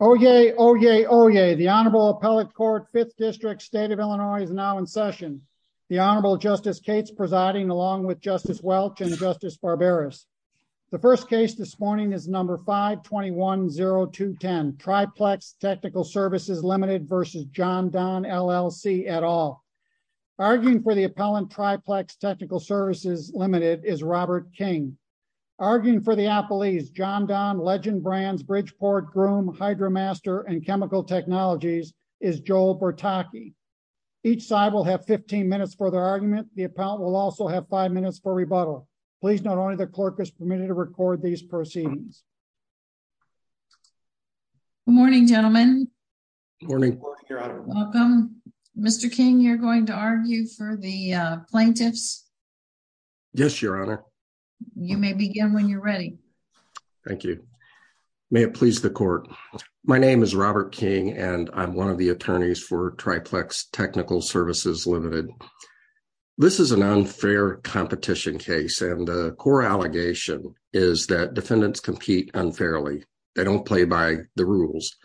Oyez, oyez, oyez. The Honorable Appellate Court, 5th District, State of Illinois is now in session. The Honorable Justice Cates presiding along with Justice Welch and Justice Barberis. The first case this morning is number 521-0210, Tri-Plex Technical Services, Ltd. v. Jon-Don, LLC, et al. Arguing for the appellant, Tri-Plex Technical Services, Ltd., is Robert King. Arguing for the appellant, Jon-Don, Legend Brands, Bridgeport, Groom, HydroMaster, and Chemical Technologies, is Joel Bertocchi. Each side will have 15 minutes for their argument. The appellant will also have five minutes for rebuttal. Please note only the clerk is permitted to record these proceedings. Good morning, gentlemen. Good morning, Your Honor. Welcome. Mr. King, you're going to argue for the plaintiffs? Yes, Your Honor. You may begin when you're ready. Thank you. May it please the court. My name is Robert King, and I'm one of the attorneys for Tri-Plex Technical Services, Ltd. This is an unfair competition case, and the core allegation is that defendants compete unfairly. They don't play by the rules.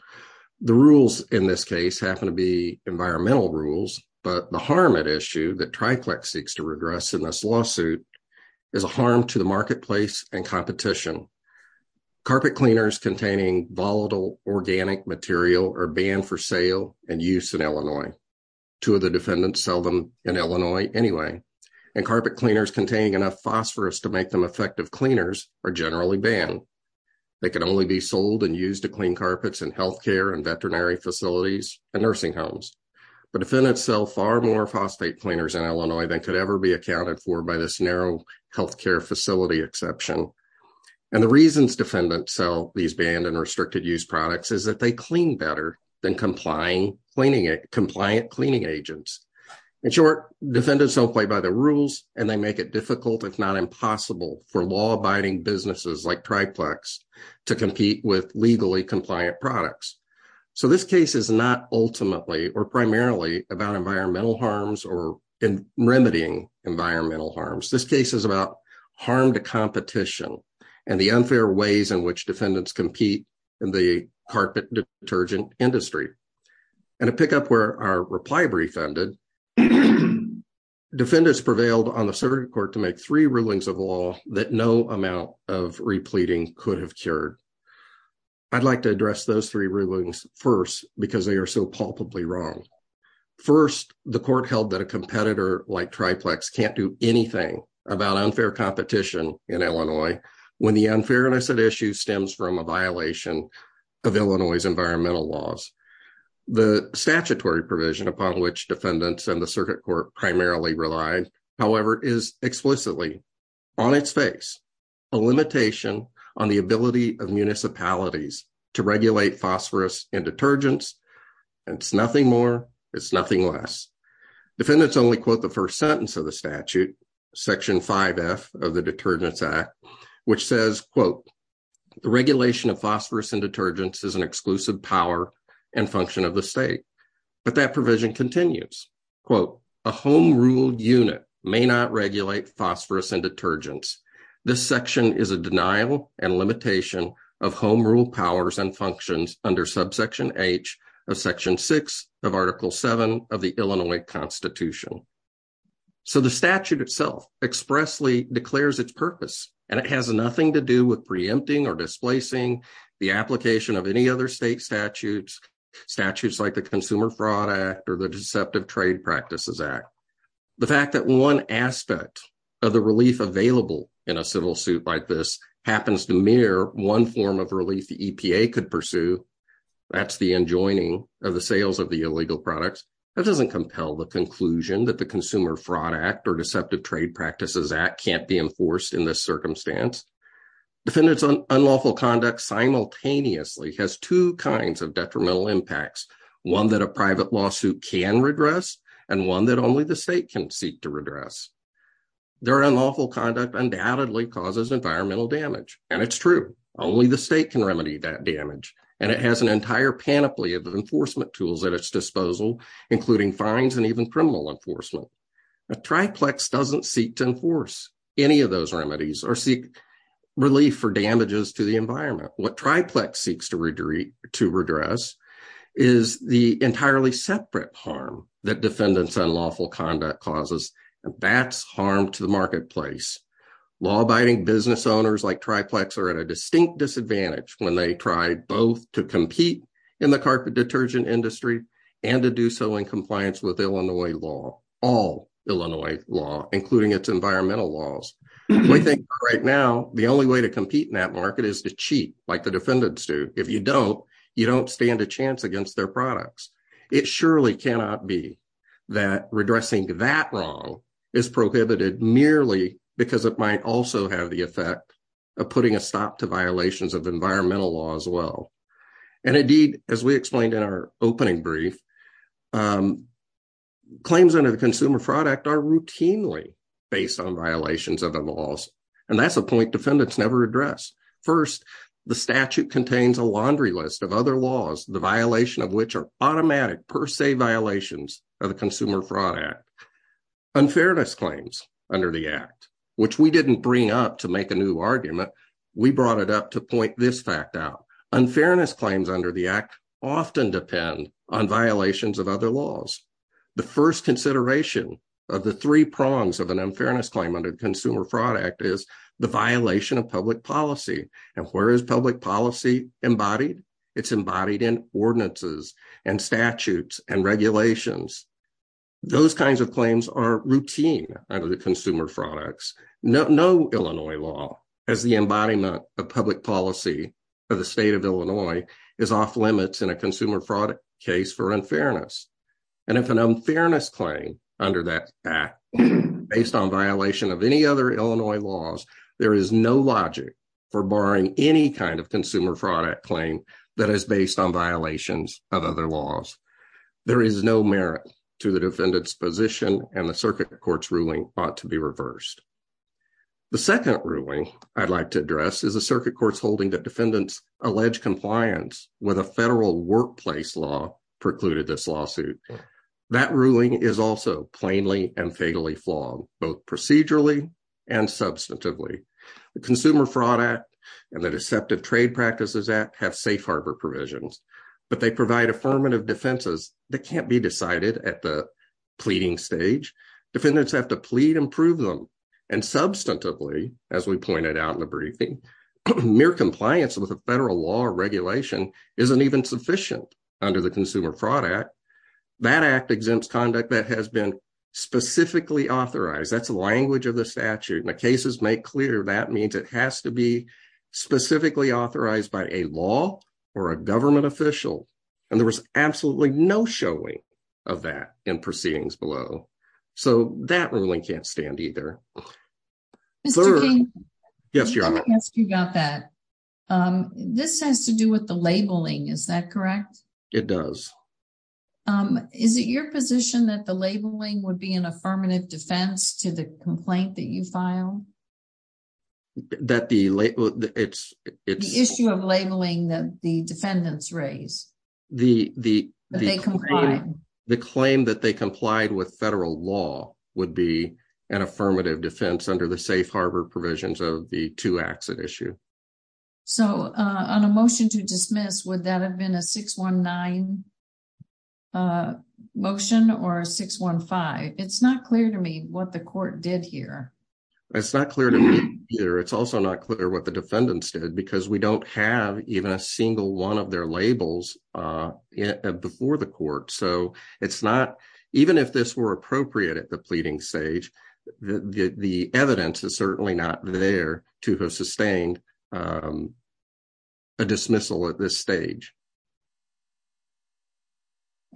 The rules in this case happen to be environmental rules, but the harm at issue that Tri-Plex seeks to redress in this lawsuit is a harm to the marketplace and competition. Carpet cleaners containing volatile organic material are banned for sale and use in Illinois. Two of the defendants sell them in Illinois anyway, and carpet cleaners containing enough phosphorus to make them effective cleaners are generally banned. They can only be sold and used to clean carpets in healthcare and far more phosphate cleaners in Illinois than could ever be accounted for by this narrow healthcare facility exception. The reasons defendants sell these banned and restricted use products is that they clean better than compliant cleaning agents. In short, defendants don't play by the rules, and they make it difficult, if not impossible, for law-abiding businesses like Tri-Plex to compete with legally compliant products. This case is not ultimately or primarily about environmental harms or in remedying environmental harms. This case is about harm to competition and the unfair ways in which defendants compete in the carpet detergent industry. To pick up where our reply brief ended, defendants prevailed on the Supreme Court to make three rulings of law that no amount of repleting could have cured. I'd like to address those three wrongs. First, the court held that a competitor like Tri-Plex can't do anything about unfair competition in Illinois when the unfairness at issue stems from a violation of Illinois' environmental laws. The statutory provision upon which defendants and the circuit court primarily rely, however, is explicitly on its face a limitation on the ability of municipalities to regulate phosphorus and detergents. It's nothing more, it's nothing less. Defendants only quote the first sentence of the statute, section 5f of the Detergents Act, which says, quote, the regulation of phosphorus and detergents is an exclusive power and function of the state, but that provision continues. Quote, a home-ruled unit may not regulate phosphorus and detergents. This section is a denial and limitation of home rule powers and functions under subsection h of section 6 of article 7 of the Illinois Constitution. So the statute itself expressly declares its purpose and it has nothing to do with preempting or displacing the application of any other state statutes, statutes like the Consumer Fraud Act or the Deceptive Trade Practices Act. The fact that one aspect of the relief available in a civil suit like this happens to mirror one form of relief the EPA could pursue, that's the enjoining of the sales of the illegal products, that doesn't compel the conclusion that the Consumer Fraud Act or Deceptive Trade Practices Act can't be enforced in this circumstance. Defendants' unlawful conduct simultaneously has two kinds of detrimental impacts, one that a private lawsuit can regress and one that only the state can seek to redress. Their unlawful conduct undoubtedly causes environmental damage and it's true, only the state can remedy that damage and it has an entire panoply of enforcement tools at its disposal, including fines and even criminal enforcement. A triplex doesn't seek to enforce any of those remedies or seek relief for damages to the defendant's unlawful conduct causes. That's harm to the marketplace. Law-abiding business owners like triplex are at a distinct disadvantage when they try both to compete in the carpet detergent industry and to do so in compliance with Illinois law, all Illinois law, including its environmental laws. We think right now the only way to compete in that market is to cheat like the defendants do. If you don't, you don't stand a chance against their products. It surely cannot be that redressing that wrong is prohibited merely because it might also have the effect of putting a stop to violations of environmental law as well. And indeed, as we explained in our opening brief, claims under the Consumer Fraud Act are routinely based on violations of the laws and that's a point defendants never address. First, the statute contains a laundry list of other laws, the violation of which are automatic per se violations of the Consumer Fraud Act. Unfairness claims under the Act, which we didn't bring up to make a new argument, we brought it up to point this fact out. Unfairness claims under the Act often depend on violations of other laws. The first consideration of the three prongs of an unfairness claim under the Consumer Fraud Act is the violation of public policy. And where is public policy embodied? It's embodied in ordinances and statutes and regulations. Those kinds of claims are routine under the Consumer Fraud Act. No Illinois law has the embodiment of public policy of the state of Illinois is off limits in a Consumer Fraud case for unfairness. And if an unfairness claim under that Act, based on violation of any other Illinois laws, there is no logic for barring any kind of Consumer Fraud Act claim that is based on violations of other laws. There is no merit to the defendant's position and the circuit court's ruling ought to be reversed. The second ruling I'd like to address is a circuit court's holding that defendants allege compliance with a federal workplace law precluded this lawsuit. That ruling is also and fatally flawed, both procedurally and substantively. The Consumer Fraud Act and the Deceptive Trade Practices Act have safe harbor provisions, but they provide affirmative defenses that can't be decided at the pleading stage. Defendants have to plead and prove them. And substantively, as we pointed out in the briefing, mere compliance with a federal law or regulation isn't even sufficient under the Consumer Fraud Act. That Act exempts conduct that has been specifically authorized. That's the language of the statute. And the cases make clear that means it has to be specifically authorized by a law or a government official. And there was absolutely no showing of that in proceedings below. So that ruling can't stand either. Mr. King, you got that. This has to do with the labeling, is that correct? It does. Is it your position that the labeling would be an affirmative defense to the complaint that you filed? The issue of labeling that the defendants raised. The claim that they complied with federal law would be an affirmative defense under the safe harbor provisions of the two-action issue. So on a motion to dismiss, would that have been a 619 motion or a 615? It's not clear to me what the court did here. It's not clear to me either. It's also not clear what the defendants did because we don't have even a single one of their labels before the court. So it's not, even if this were appropriate at the pleading stage, the evidence is certainly not there to have sustained a dismissal at this stage.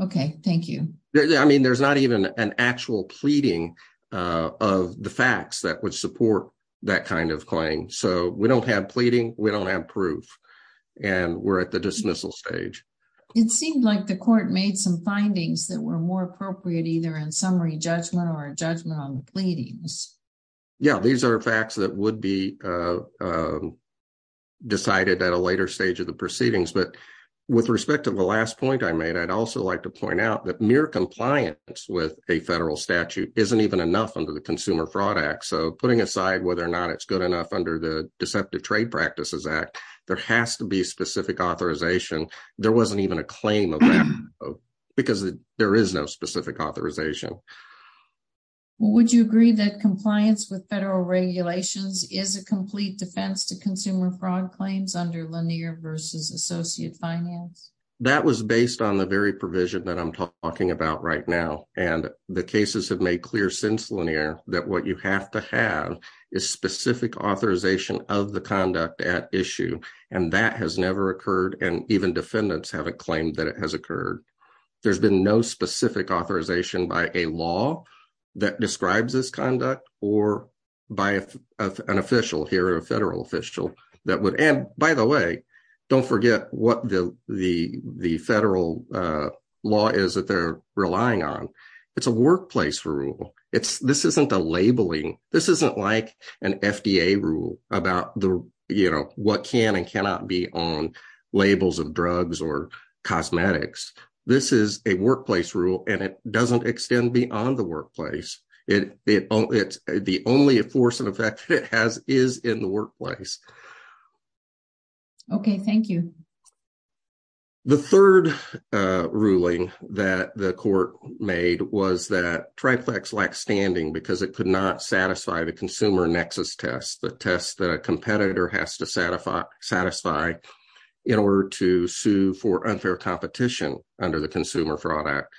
Okay, thank you. I mean, there's not even an actual pleading of the facts that would support that kind of claim. So we don't have pleading, we don't have proof, and we're at the dismissal stage. It seemed like the court made some findings that were more appropriate either in summary judgment or judgment on the pleadings. Yeah, these are facts that would be decided at a later stage of the proceedings. But with respect to the last point I made, I'd also like to point out that mere compliance with a federal statute isn't even enough under the Consumer Fraud Act. So putting aside whether or not it's good enough under the Deceptive Trade Practices Act, there has to be specific authorization. There wasn't even a claim of that because there is no specific authorization. Would you agree that compliance with federal regulations is a complete defense to consumer fraud claims under Lanier versus Associate Finance? That was based on the very provision that I'm talking about right now. And the cases have made clear since Lanier that what you have to have is specific authorization of the conduct at issue, and that has never occurred, and even defendants haven't claimed that it has occurred. There's been no specific authorization by a law that describes this conduct or by an official here, a federal official. And by the way, don't forget what the federal law is that they're relying on. It's a workplace rule. This isn't a labeling. This isn't like an FDA rule about what can and cannot be on labels of drugs or cosmetics. This is a workplace rule, and it doesn't extend beyond the workplace. The only force and effect that it has is in the workplace. Okay, thank you. The third ruling that the court made was that TriFlex lacked standing because it could not satisfy the consumer nexus test, the test that a competitor has to satisfy in order to sue for unfair competition under the consumer fraud act.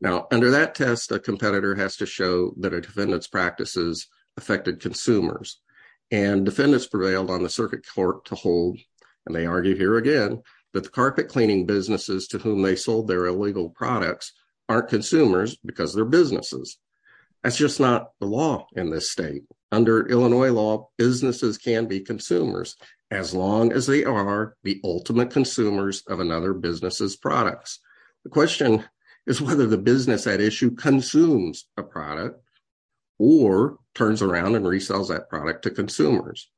Now, under that test, a competitor has to show that a defendant's practices affected consumers, and defendants prevailed on the circuit court to that the carpet cleaning businesses to whom they sold their illegal products aren't consumers because they're businesses. That's just not the law in this state. Under Illinois law, businesses can be consumers as long as they are the ultimate consumers of another business's products. The question is whether the business at issue consumes a product or turns around and resells that product to consumers.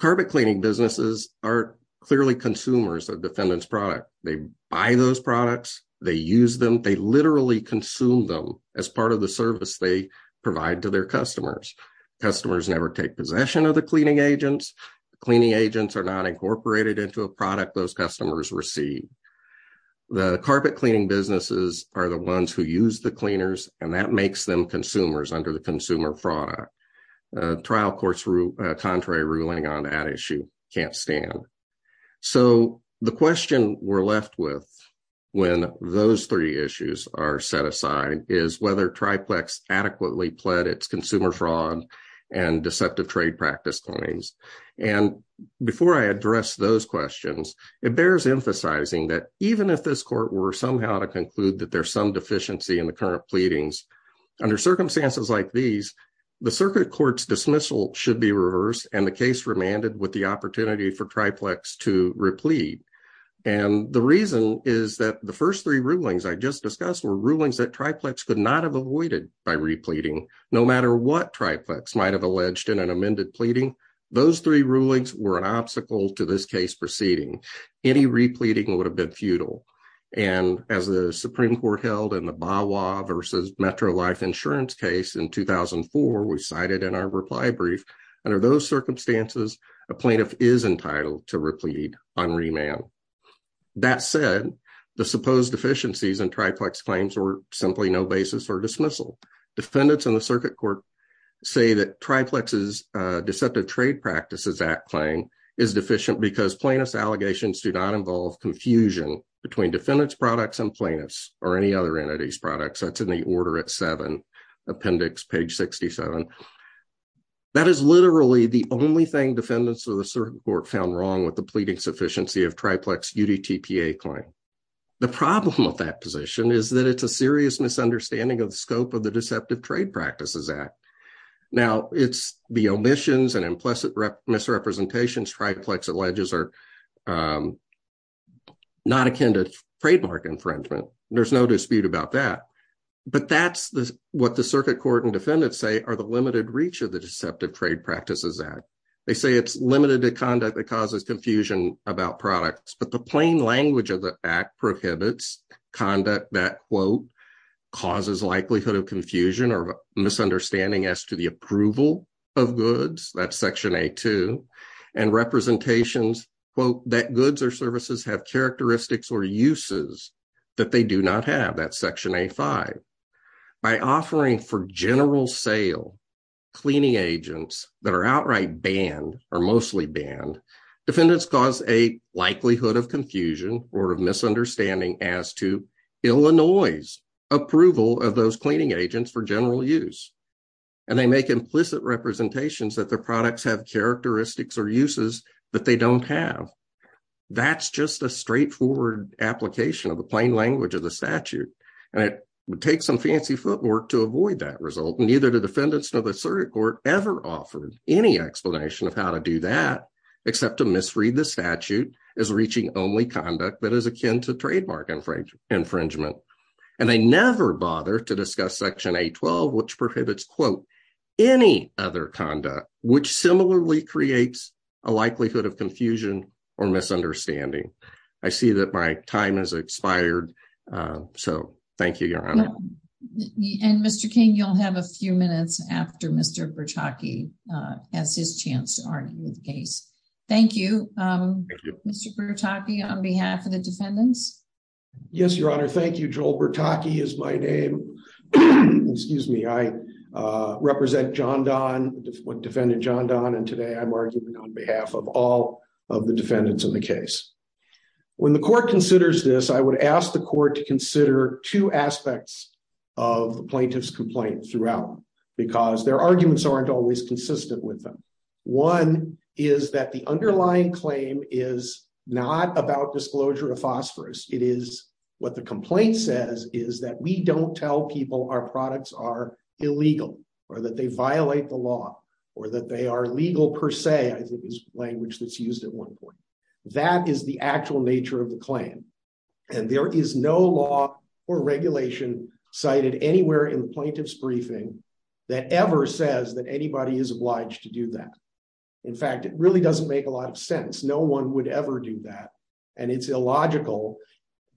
Carpet cleaning businesses are clearly consumers of defendant's product. They buy those products. They use them. They literally consume them as part of the service they provide to their customers. Customers never take possession of the cleaning agents. Cleaning agents are not incorporated into a product those customers receive. The carpet cleaning businesses are the ones who use the cleaners, and that makes them consumer fraud. Trial court's contrary ruling on that issue can't stand. So, the question we're left with when those three issues are set aside is whether Triplex adequately pled its consumer fraud and deceptive trade practice claims. Before I address those questions, it bears emphasizing that even if this court were somehow to conclude that there's some deficiency in the current the circuit court's dismissal should be reversed and the case remanded with the opportunity for Triplex to replead. And the reason is that the first three rulings I just discussed were rulings that Triplex could not have avoided by repleting. No matter what Triplex might have alleged in an amended pleading, those three rulings were an obstacle to this case proceeding. Any repleting would have been futile. And as the Supreme Court held in the Bawa versus Metro Life Insurance case in 2004, we cited in our reply brief, under those circumstances a plaintiff is entitled to replead on remand. That said, the supposed deficiencies in Triplex claims were simply no basis for dismissal. Defendants in the circuit court say that Triplex's deceptive trade practices act claim is deficient because plaintiff's allegations do not involve confusion between defendant's products and plaintiff's or any other entity's products. That's in the order at seven appendix page 67. That is literally the only thing defendants of the circuit court found wrong with the pleading sufficiency of Triplex UDTPA claim. The problem with that position is that it's a serious misunderstanding of the scope of the deceptive trade practices act. Now it's the omissions and implicit misrepresentations Triplex alleges are not akin to trademark infringement. There's no dispute about that. But that's what the circuit court and defendants say are the limited reach of the deceptive trade practices act. They say it's limited to conduct that causes confusion about products, but the plain language of the act prohibits conduct that quote, causes likelihood of confusion or misunderstanding as to the approval of goods that's section a2 and representations quote that goods or services have characteristics or uses that they do not have that section a5. By offering for general sale cleaning agents that are outright banned or mostly banned, defendants cause a likelihood of confusion or of misunderstanding as to Illinois' approval of those cleaning agents for general use. And they make implicit representations that their products have characteristics or uses that they don't have. That's just a straightforward application of the plain language of the statute. And it takes some fancy footwork to avoid that result. Neither the defendants nor the circuit court ever offered any explanation of how to do that except to misread the statute as reaching only conduct that is akin to trademark infringement. And they never bother to quote any other conduct, which similarly creates a likelihood of confusion or misunderstanding. I see that my time has expired. So thank you, Your Honor. And Mr. King, you'll have a few minutes after Mr. Bertocchi has his chance to argue the case. Thank you, Mr. Bertocchi on behalf of the defendants. Yes, Your Honor. Thank you. Joel Bertocchi is my name. Excuse me. I represent John Donne, defendant John Donne. And today I'm arguing on behalf of all of the defendants in the case. When the court considers this, I would ask the court to consider two aspects of the plaintiff's complaint throughout because their arguments aren't always consistent with them. One is that the underlying claim is not about disclosure of phosphorus. It is what the complaint says is that we don't tell people our products are illegal or that they violate the law or that they are legal per se. I think it's language that's used at one point. That is the actual nature of the claim. And there is no law or regulation cited anywhere in the plaintiff's briefing that ever says that anybody is obliged to do that. In fact, it really doesn't make a lot of sense. No one would ever do that. And it's illogical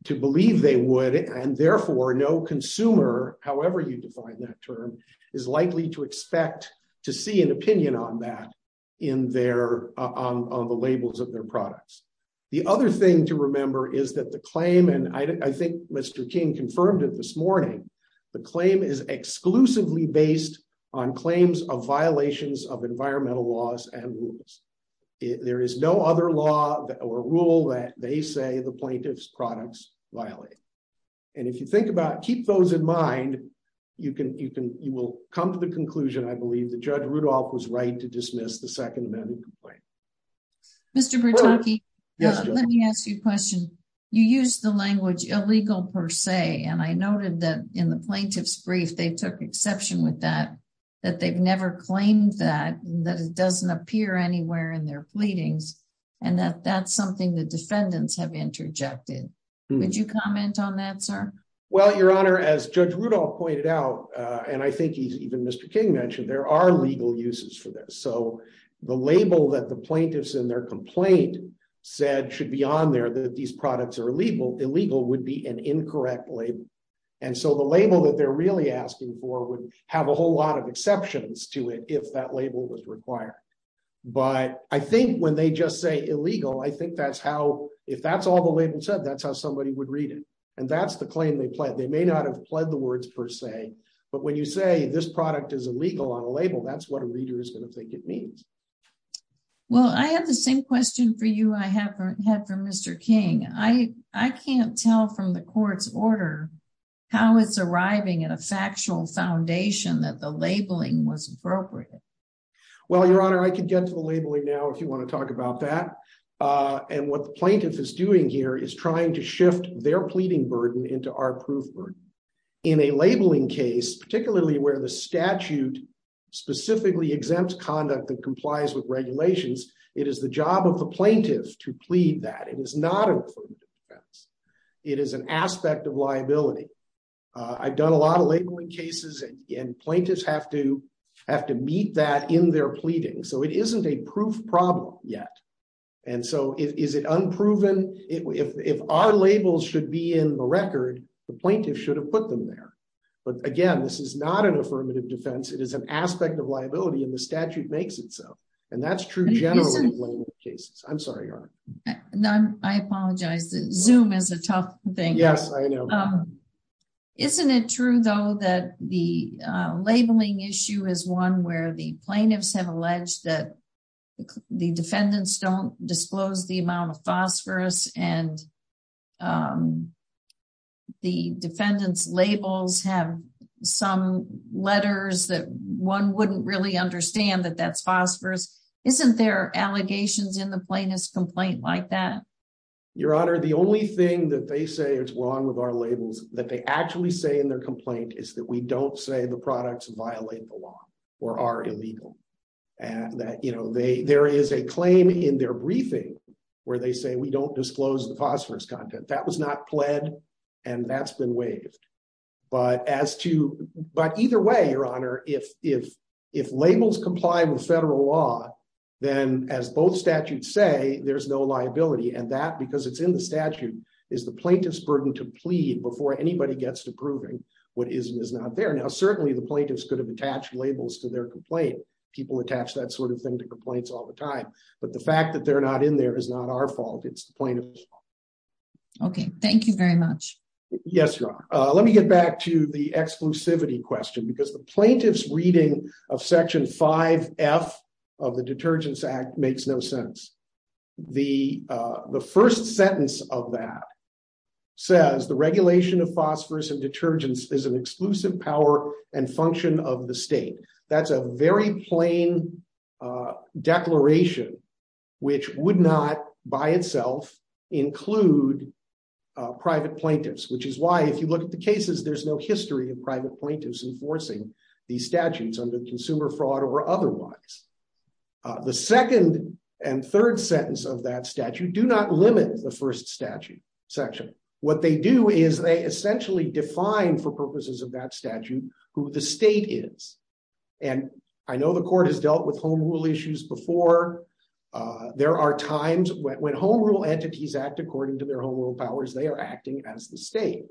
to believe they would. And therefore, no consumer, however you define that term, is likely to expect to see an opinion on that in their on the labels of their products. The other thing to remember is that the claim and I think Mr. King confirmed it this morning. The claim is exclusively based on claims of violations of environmental laws and rules. There is no other law or rule that they say the plaintiff's products violate. And if you think about keep those in mind, you can you can you will come to the conclusion. I believe that Judge Rudolph was right to dismiss the Second Amendment. Mr. Brutonky, let me ask you a question. You use the language illegal per se. And I noted that in the plaintiff's brief, they took exception with that, that they've never claimed that that doesn't appear anywhere in their pleadings. And that that's something the defendants have interjected. Would you comment on that, sir? Well, Your Honor, as Judge Rudolph pointed out, and I think he's even Mr. King mentioned there are legal uses for this. So the label that the plaintiffs in their complaint said should be on there that these products are illegal, illegal would be an incorrect label. And so the label that they're really asking for would have a whole lot of exceptions to it if that label was required. But I think when they just say illegal, I think that's how if that's all the label said, that's how somebody would read it. And that's the claim they pled. They may not have pled the words per se. But when you say this product is illegal on a label, that's what a means. Well, I have the same question for you. I haven't had from Mr. King. I can't tell from the court's order, how it's arriving at a factual foundation that the labeling was appropriate. Well, Your Honor, I could get to the labeling now if you want to talk about that. And what the plaintiff is doing here is trying to shift their pleading burden into our proof. In a labeling case, particularly where the statute specifically exempts conduct that complies with regulations, it is the job of the plaintiff to plead that. It is not included. It is an aspect of liability. I've done a lot of labeling cases and plaintiffs have to meet that in their pleading. So it isn't a proof problem yet. And so is it unproven? If our labels should be in the record, the plaintiff should have put them there. But again, this is not an affirmative defense. It is an aspect of liability and the statute makes it so. And that's true generally. I'm sorry, Your Honor. I apologize. Zoom is a tough thing. Isn't it true, though, that the labeling issue is one where the plaintiffs have alleged that the defendants don't disclose the amount of phosphorus and the defendant's labels have some letters that one wouldn't really understand that that's phosphorus? Isn't there allegations in the plaintiff's complaint like that? Your Honor, the only thing that they say is wrong with our labels that they actually say in their law or are illegal. There is a claim in their briefing where they say we don't disclose the phosphorus content. That was not pled and that's been waived. But either way, Your Honor, if labels comply with federal law, then as both statutes say, there's no liability. And that, because it's in the statute, is the plaintiff's burden to plead before anybody gets to proving what is and is not there. Now, certainly the plaintiffs could have attached labels to their complaint. People attach that sort of thing to complaints all the time. But the fact that they're not in there is not our fault. It's the plaintiff's fault. Okay. Thank you very much. Yes, Your Honor. Let me get back to the exclusivity question, because the plaintiff's reading of Section 5F of the Detergents Act makes no sense. The first sentence of that says the regulation of phosphorus and detergents is an exclusive power and function of the state. That's a very plain declaration, which would not by itself include private plaintiffs, which is why, if you look at the cases, there's no history of private plaintiffs enforcing these statutes under consumer fraud or otherwise. The second and third sentence of that statute do not limit the first statute section. What they do is they essentially define, for purposes of that statute, who the state is. And I know the Court has dealt with home rule issues before. There are times when home rule entities act according to their home rule powers, they are simply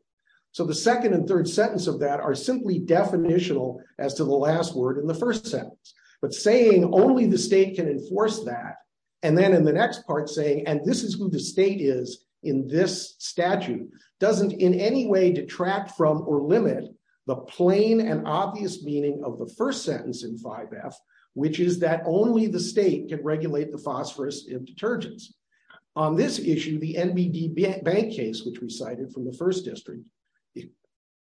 definitional as to the last word in the first sentence. But saying only the state can enforce that, and then in the next part saying, and this is who the state is in this statute, doesn't in any way detract from or limit the plain and obvious meaning of the first sentence in 5F, which is that only the state can regulate the phosphorus in detergents. On this issue, the NBD Bank case, which we cited from the First District,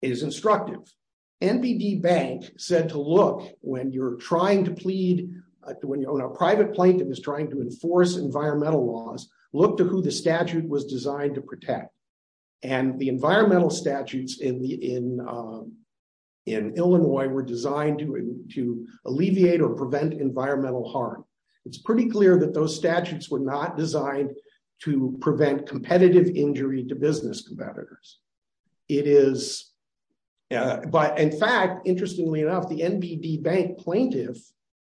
is instructive. NBD Bank said to look, when you're trying to plead, when a private plaintiff is trying to enforce environmental laws, look to who the statute was designed to protect. And the environmental statutes in Illinois were designed to alleviate or prevent environmental harm. It's pretty clear that those statutes were not designed to prevent competitive injury to business competitors. But in fact, interestingly enough, the NBD Bank plaintiff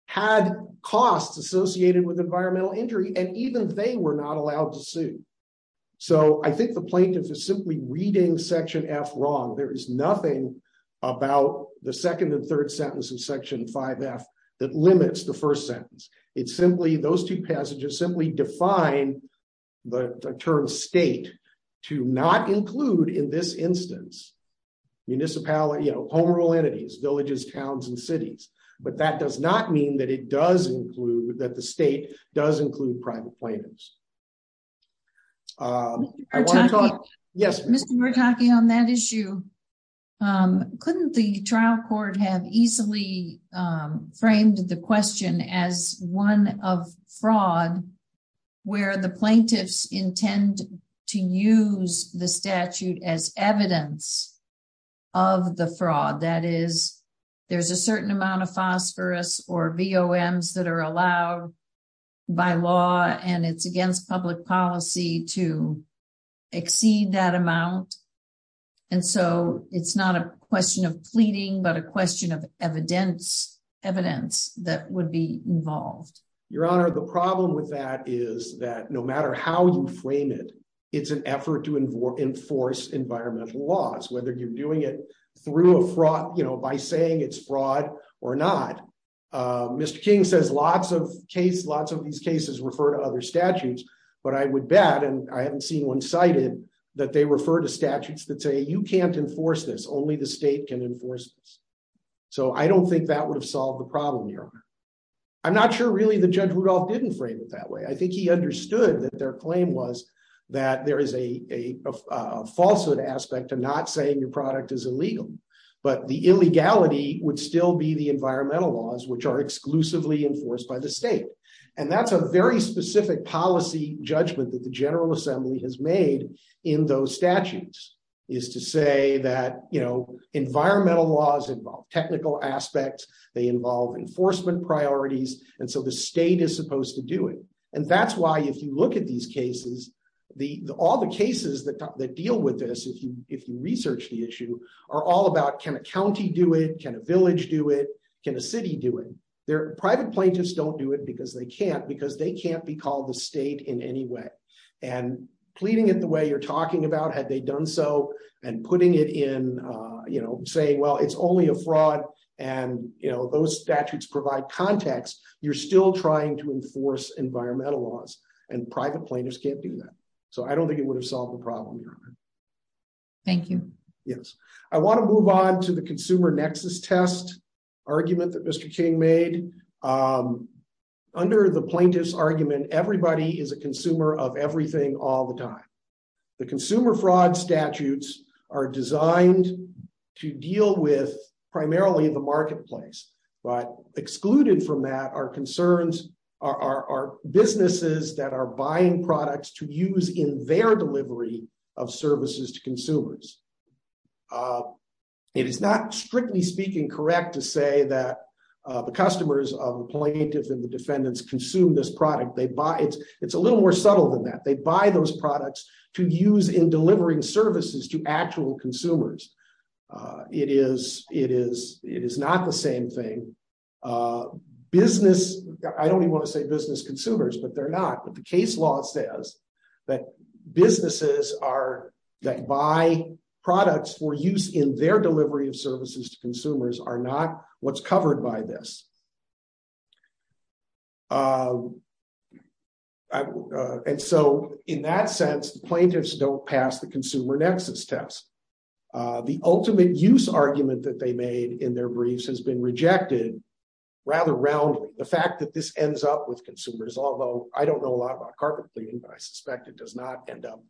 had costs associated with environmental injury, and even they were not allowed to sue. So I think the plaintiff is simply reading Section F wrong. There is nothing about the second and third sentence of Section 5F that limits the first sentence. Those two passages simply define the term state to not include in this instance, municipalities, you know, home rule entities, villages, towns, and cities. But that does not mean that it does include, that the state does include private plaintiffs. I want to talk, yes. Mr. Bertocchi, on that issue, couldn't the state have a fraud where the plaintiffs intend to use the statute as evidence of the fraud? That is, there's a certain amount of phosphorus or VOMs that are allowed by law, and it's against public policy to exceed that amount. And so it's not a question of pleading, but a question of evidence evidence that would be involved. Your Honor, the problem with that is that no matter how you frame it, it's an effort to enforce environmental laws, whether you're doing it through a fraud, you know, by saying it's fraud or not. Mr. King says lots of cases, lots of these cases refer to other statutes, but I would bet, and I haven't seen one cited, that they refer to statutes that say you can't enforce this. So I don't think that would have solved the problem, Your Honor. I'm not sure really that Judge Rudolph didn't frame it that way. I think he understood that their claim was that there is a falsehood aspect to not saying your product is illegal, but the illegality would still be the environmental laws which are exclusively enforced by the state. And that's a very specific policy judgment that the General Assembly has made in those statutes, is to say that, you know, environmental laws involve technical aspects, they involve enforcement priorities, and so the state is supposed to do it. And that's why if you look at these cases, all the cases that deal with this, if you research the issue, are all about can a county do it, can a village do it, can a city do it. Their private plaintiffs don't do it because they can't, because they can't be called the state in any way. And pleading it the way you're talking about, had they done so, and putting it in, you know, saying, well, it's only a fraud, and, you know, those statutes provide context, you're still trying to enforce environmental laws, and private plaintiffs can't do that. So I don't think it would have solved the problem, Your Honor. Thank you. Yes. I want to move on to the consumer nexus test argument that Mr. King made. Under the plaintiff's argument, everybody is a are designed to deal with primarily the marketplace, but excluded from that are concerns, are businesses that are buying products to use in their delivery of services to consumers. It is not strictly speaking correct to say that the customers of the plaintiff and the defendants consume this product, they buy it, it's a little more subtle than that, they buy those products to use in delivering services to actual consumers. It is, it is, it is not the same thing. Business, I don't even want to say business consumers, but they're not, but the case law says that businesses are, that buy products for use in their delivery of services to consumers are not what's covered by this. And so in that sense, the plaintiffs don't pass the consumer nexus test. The ultimate use argument that they made in their briefs has been rejected rather roundly. The fact that this ends up with consumers, although I don't know a lot about carpet cleaning, but I suspect it does not end up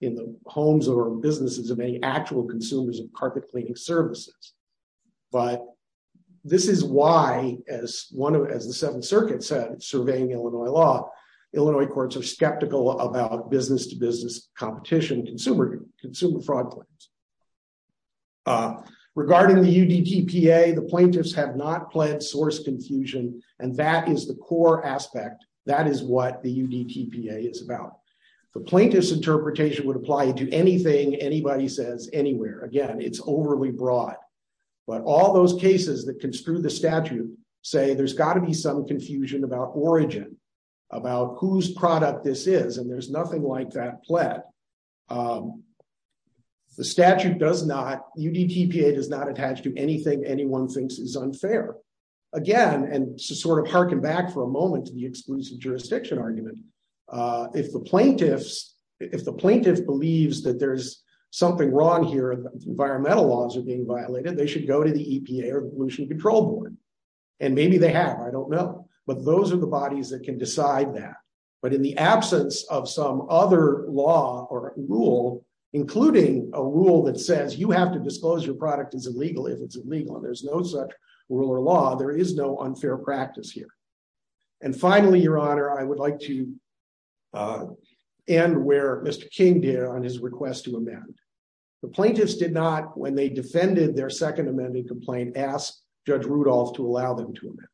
in the homes or businesses of any actual consumers of carpet cleaning services. But this is why as one of, as the Seventh Circuit said, surveying Illinois law, Illinois courts are skeptical about business to business competition, consumer, consumer fraud claims. Regarding the UDTPA, the plaintiffs have not pledged source confusion. And that is the core aspect. That is what the UDTPA is about. The plaintiff's do anything anybody says anywhere. Again, it's overly broad, but all those cases that can screw the statute say there's got to be some confusion about origin, about whose product this is. And there's nothing like that pled. The statute does not, UDTPA does not attach to anything anyone thinks is unfair. Again, and to sort of harken back for a moment to the exclusive jurisdiction argument, if the plaintiffs, if the plaintiff believes that there's something wrong here, environmental laws are being violated, they should go to the EPA or pollution control board. And maybe they have, I don't know. But those are the bodies that can decide that. But in the absence of some other law or rule, including a rule that says you have to disclose your product is illegal if it's illegal, and there's no such rule or law, there is no unfair practice here. And finally, Your Honor, I would like to end where Mr. King did on his request to amend. The plaintiffs did not, when they defended their second amending complaint, ask Judge Rudolph to allow them to amend.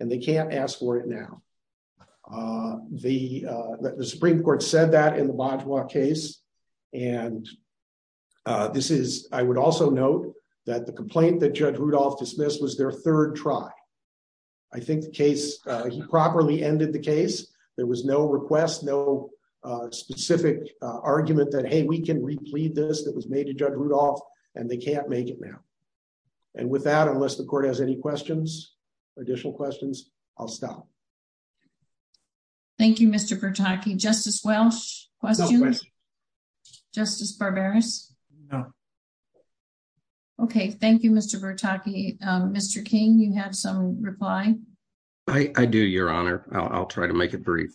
And they can't ask for it now. The Supreme Court said that in the Bonjour case. And this is, I would also note that the complaint that Judge Rudolph dismissed was their third try. I think the case, he properly ended the case. There was no request, no specific argument that, hey, we can replead this that was made to Judge Rudolph. And they can't make it now. And with that, unless the court has any questions, additional questions, I'll stop. Thank you, Mr. Bertocchi. Justice Welch, questions? Justice Barberis? No. Okay, thank you, Mr. Bertocchi. Mr. King, you have some reply? I do, Your Honor. I'll try to make it brief.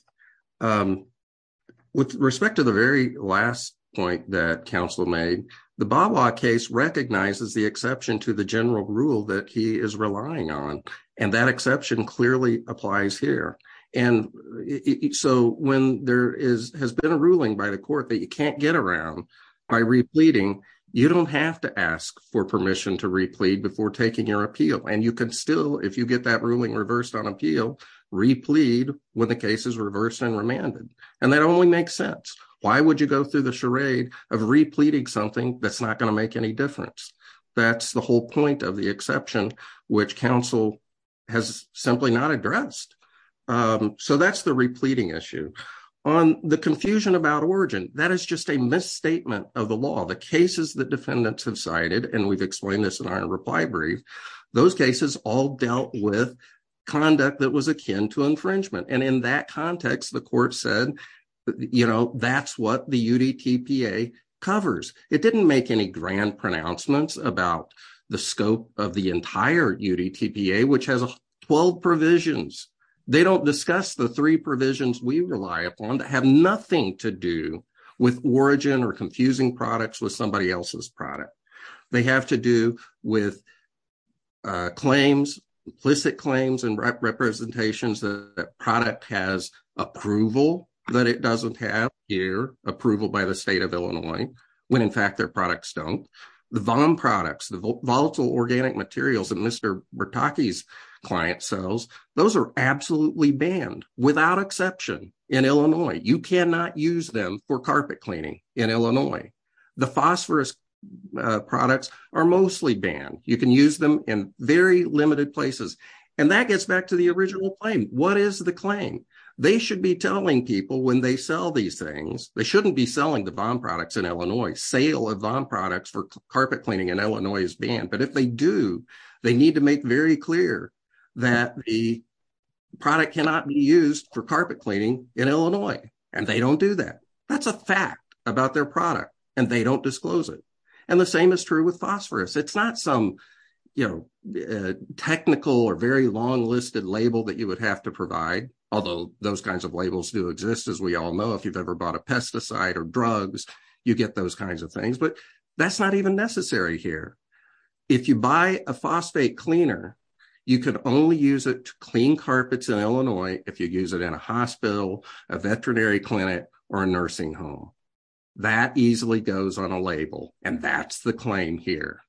With respect to the very last point that counsel made, the Bawa case recognizes the exception to the general rule that he is relying on, and that exception clearly applies here. And so when there has been a ruling by the court that you can't get around by repleting, you don't have to ask for permission to replete before taking your appeal. And you can still, if you get that ruling reversed on appeal, replete when the case is reversed and remanded. And that only makes sense. Why would you go through the charade of repleting something that's not going to make any difference? That's the whole point of the exception, which counsel has simply not addressed. So that's the repleting issue. On the confusion about origin, that is just a misstatement of the law. The cases that defendants have cited, and we've explained this in our reply brief, those cases all dealt with conduct that was akin to infringement. And in that context, the court said, you know, that's what the UDTPA covers. It didn't make any grand pronouncements about the scope of the entire UDTPA, which has 12 provisions. They don't discuss the three provisions we rely upon that have nothing to do with origin or confusing products with somebody else's product. They have to do with claims, implicit claims and representations that product has approval that it doesn't have here, approval by the state of Illinois, when in fact their volatile organic materials that Mr. Bertocchi's client sells, those are absolutely banned, without exception, in Illinois. You cannot use them for carpet cleaning in Illinois. The phosphorus products are mostly banned. You can use them in very limited places. And that gets back to the original claim. What is the claim? They should be telling people when they sell these things, they shouldn't be selling the VOM products in Illinois, sale of VOM products for carpet cleaning in Illinois is banned. But if they do, they need to make very clear that the product cannot be used for carpet cleaning in Illinois. And they don't do that. That's a fact about their product. And they don't disclose it. And the same is true with phosphorus. It's not some, you know, technical or very long listed label that you would have to provide. Although those kinds of labels do exist, as we all know, if you've ever bought a pesticide or drugs, you get those kinds of things. But that's not even necessary here. If you buy a phosphate cleaner, you can only use it to clean carpets in Illinois if you use it in a hospital, a veterinary clinic, or a nursing home. That easily goes on a label. And that's the claim here.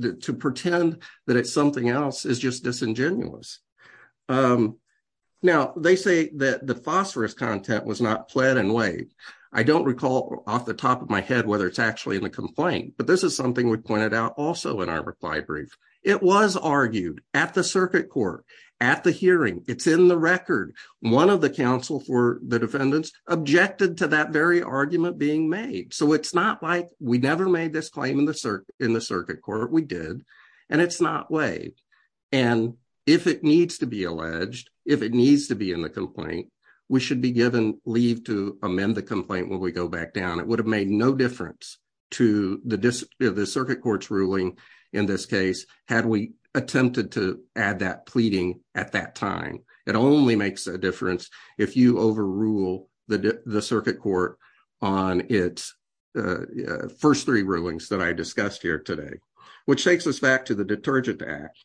To pretend that it's something else is just disingenuous. Now, they say that the phosphorus content was not pled and waived. I don't recall off the top of my head whether it's actually in the complaint. But this is something we pointed out also in our reply brief. It was argued at the circuit court, at the hearing. It's in the record. One of the counsel for the defendants objected to that very argument being made. So, it's not like we never made this claim in the circuit court. We did. And it's not waived. And if it needs to be alleged, if it needs to be in the complaint, we should be given leave to amend the complaint when we go back down. It would have made no difference to the circuit court's ruling in this case, had we attempted to add that pleading at that time. It only makes a difference if you overrule the circuit court on its first three rulings that I discussed here today. Which takes us back to the detergent act.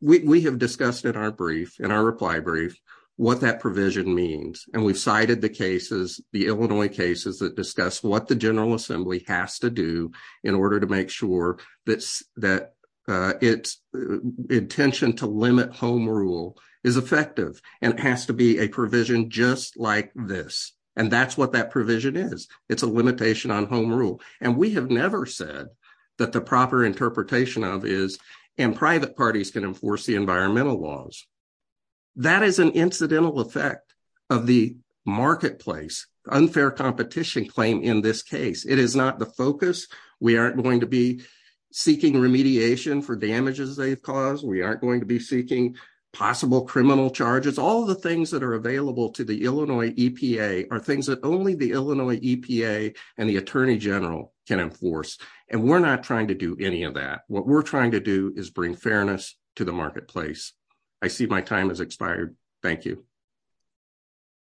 We have discussed in our reply brief what that provision means. And we've cited the Illinois cases that discuss what the general assembly has to do in order to make sure that its intention to limit home rule is effective. And it has to be a provision just like this. And that's what that provision is. It's a limitation on home rule. And we have never said that the proper interpretation of is, and private parties can enforce the environmental laws. That is an incidental effect of the marketplace, unfair competition claim in this case. It is not the focus. We aren't going to be seeking remediation for damages they've caused. We aren't going to be seeking possible criminal charges. All of the things that are available to the Illinois EPA are things that only the Illinois EPA and the attorney general can enforce. And we're not trying to do any of that. What we're trying to do is bring fairness to the marketplace. I see my time has expired. Thank you.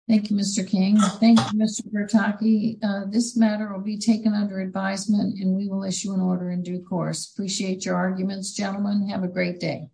Thank you, Mr. King. Thank you, Mr. Bertocchi. This matter will be taken under advisement and we will issue an order in due course. Appreciate your arguments, gentlemen. Have a great day.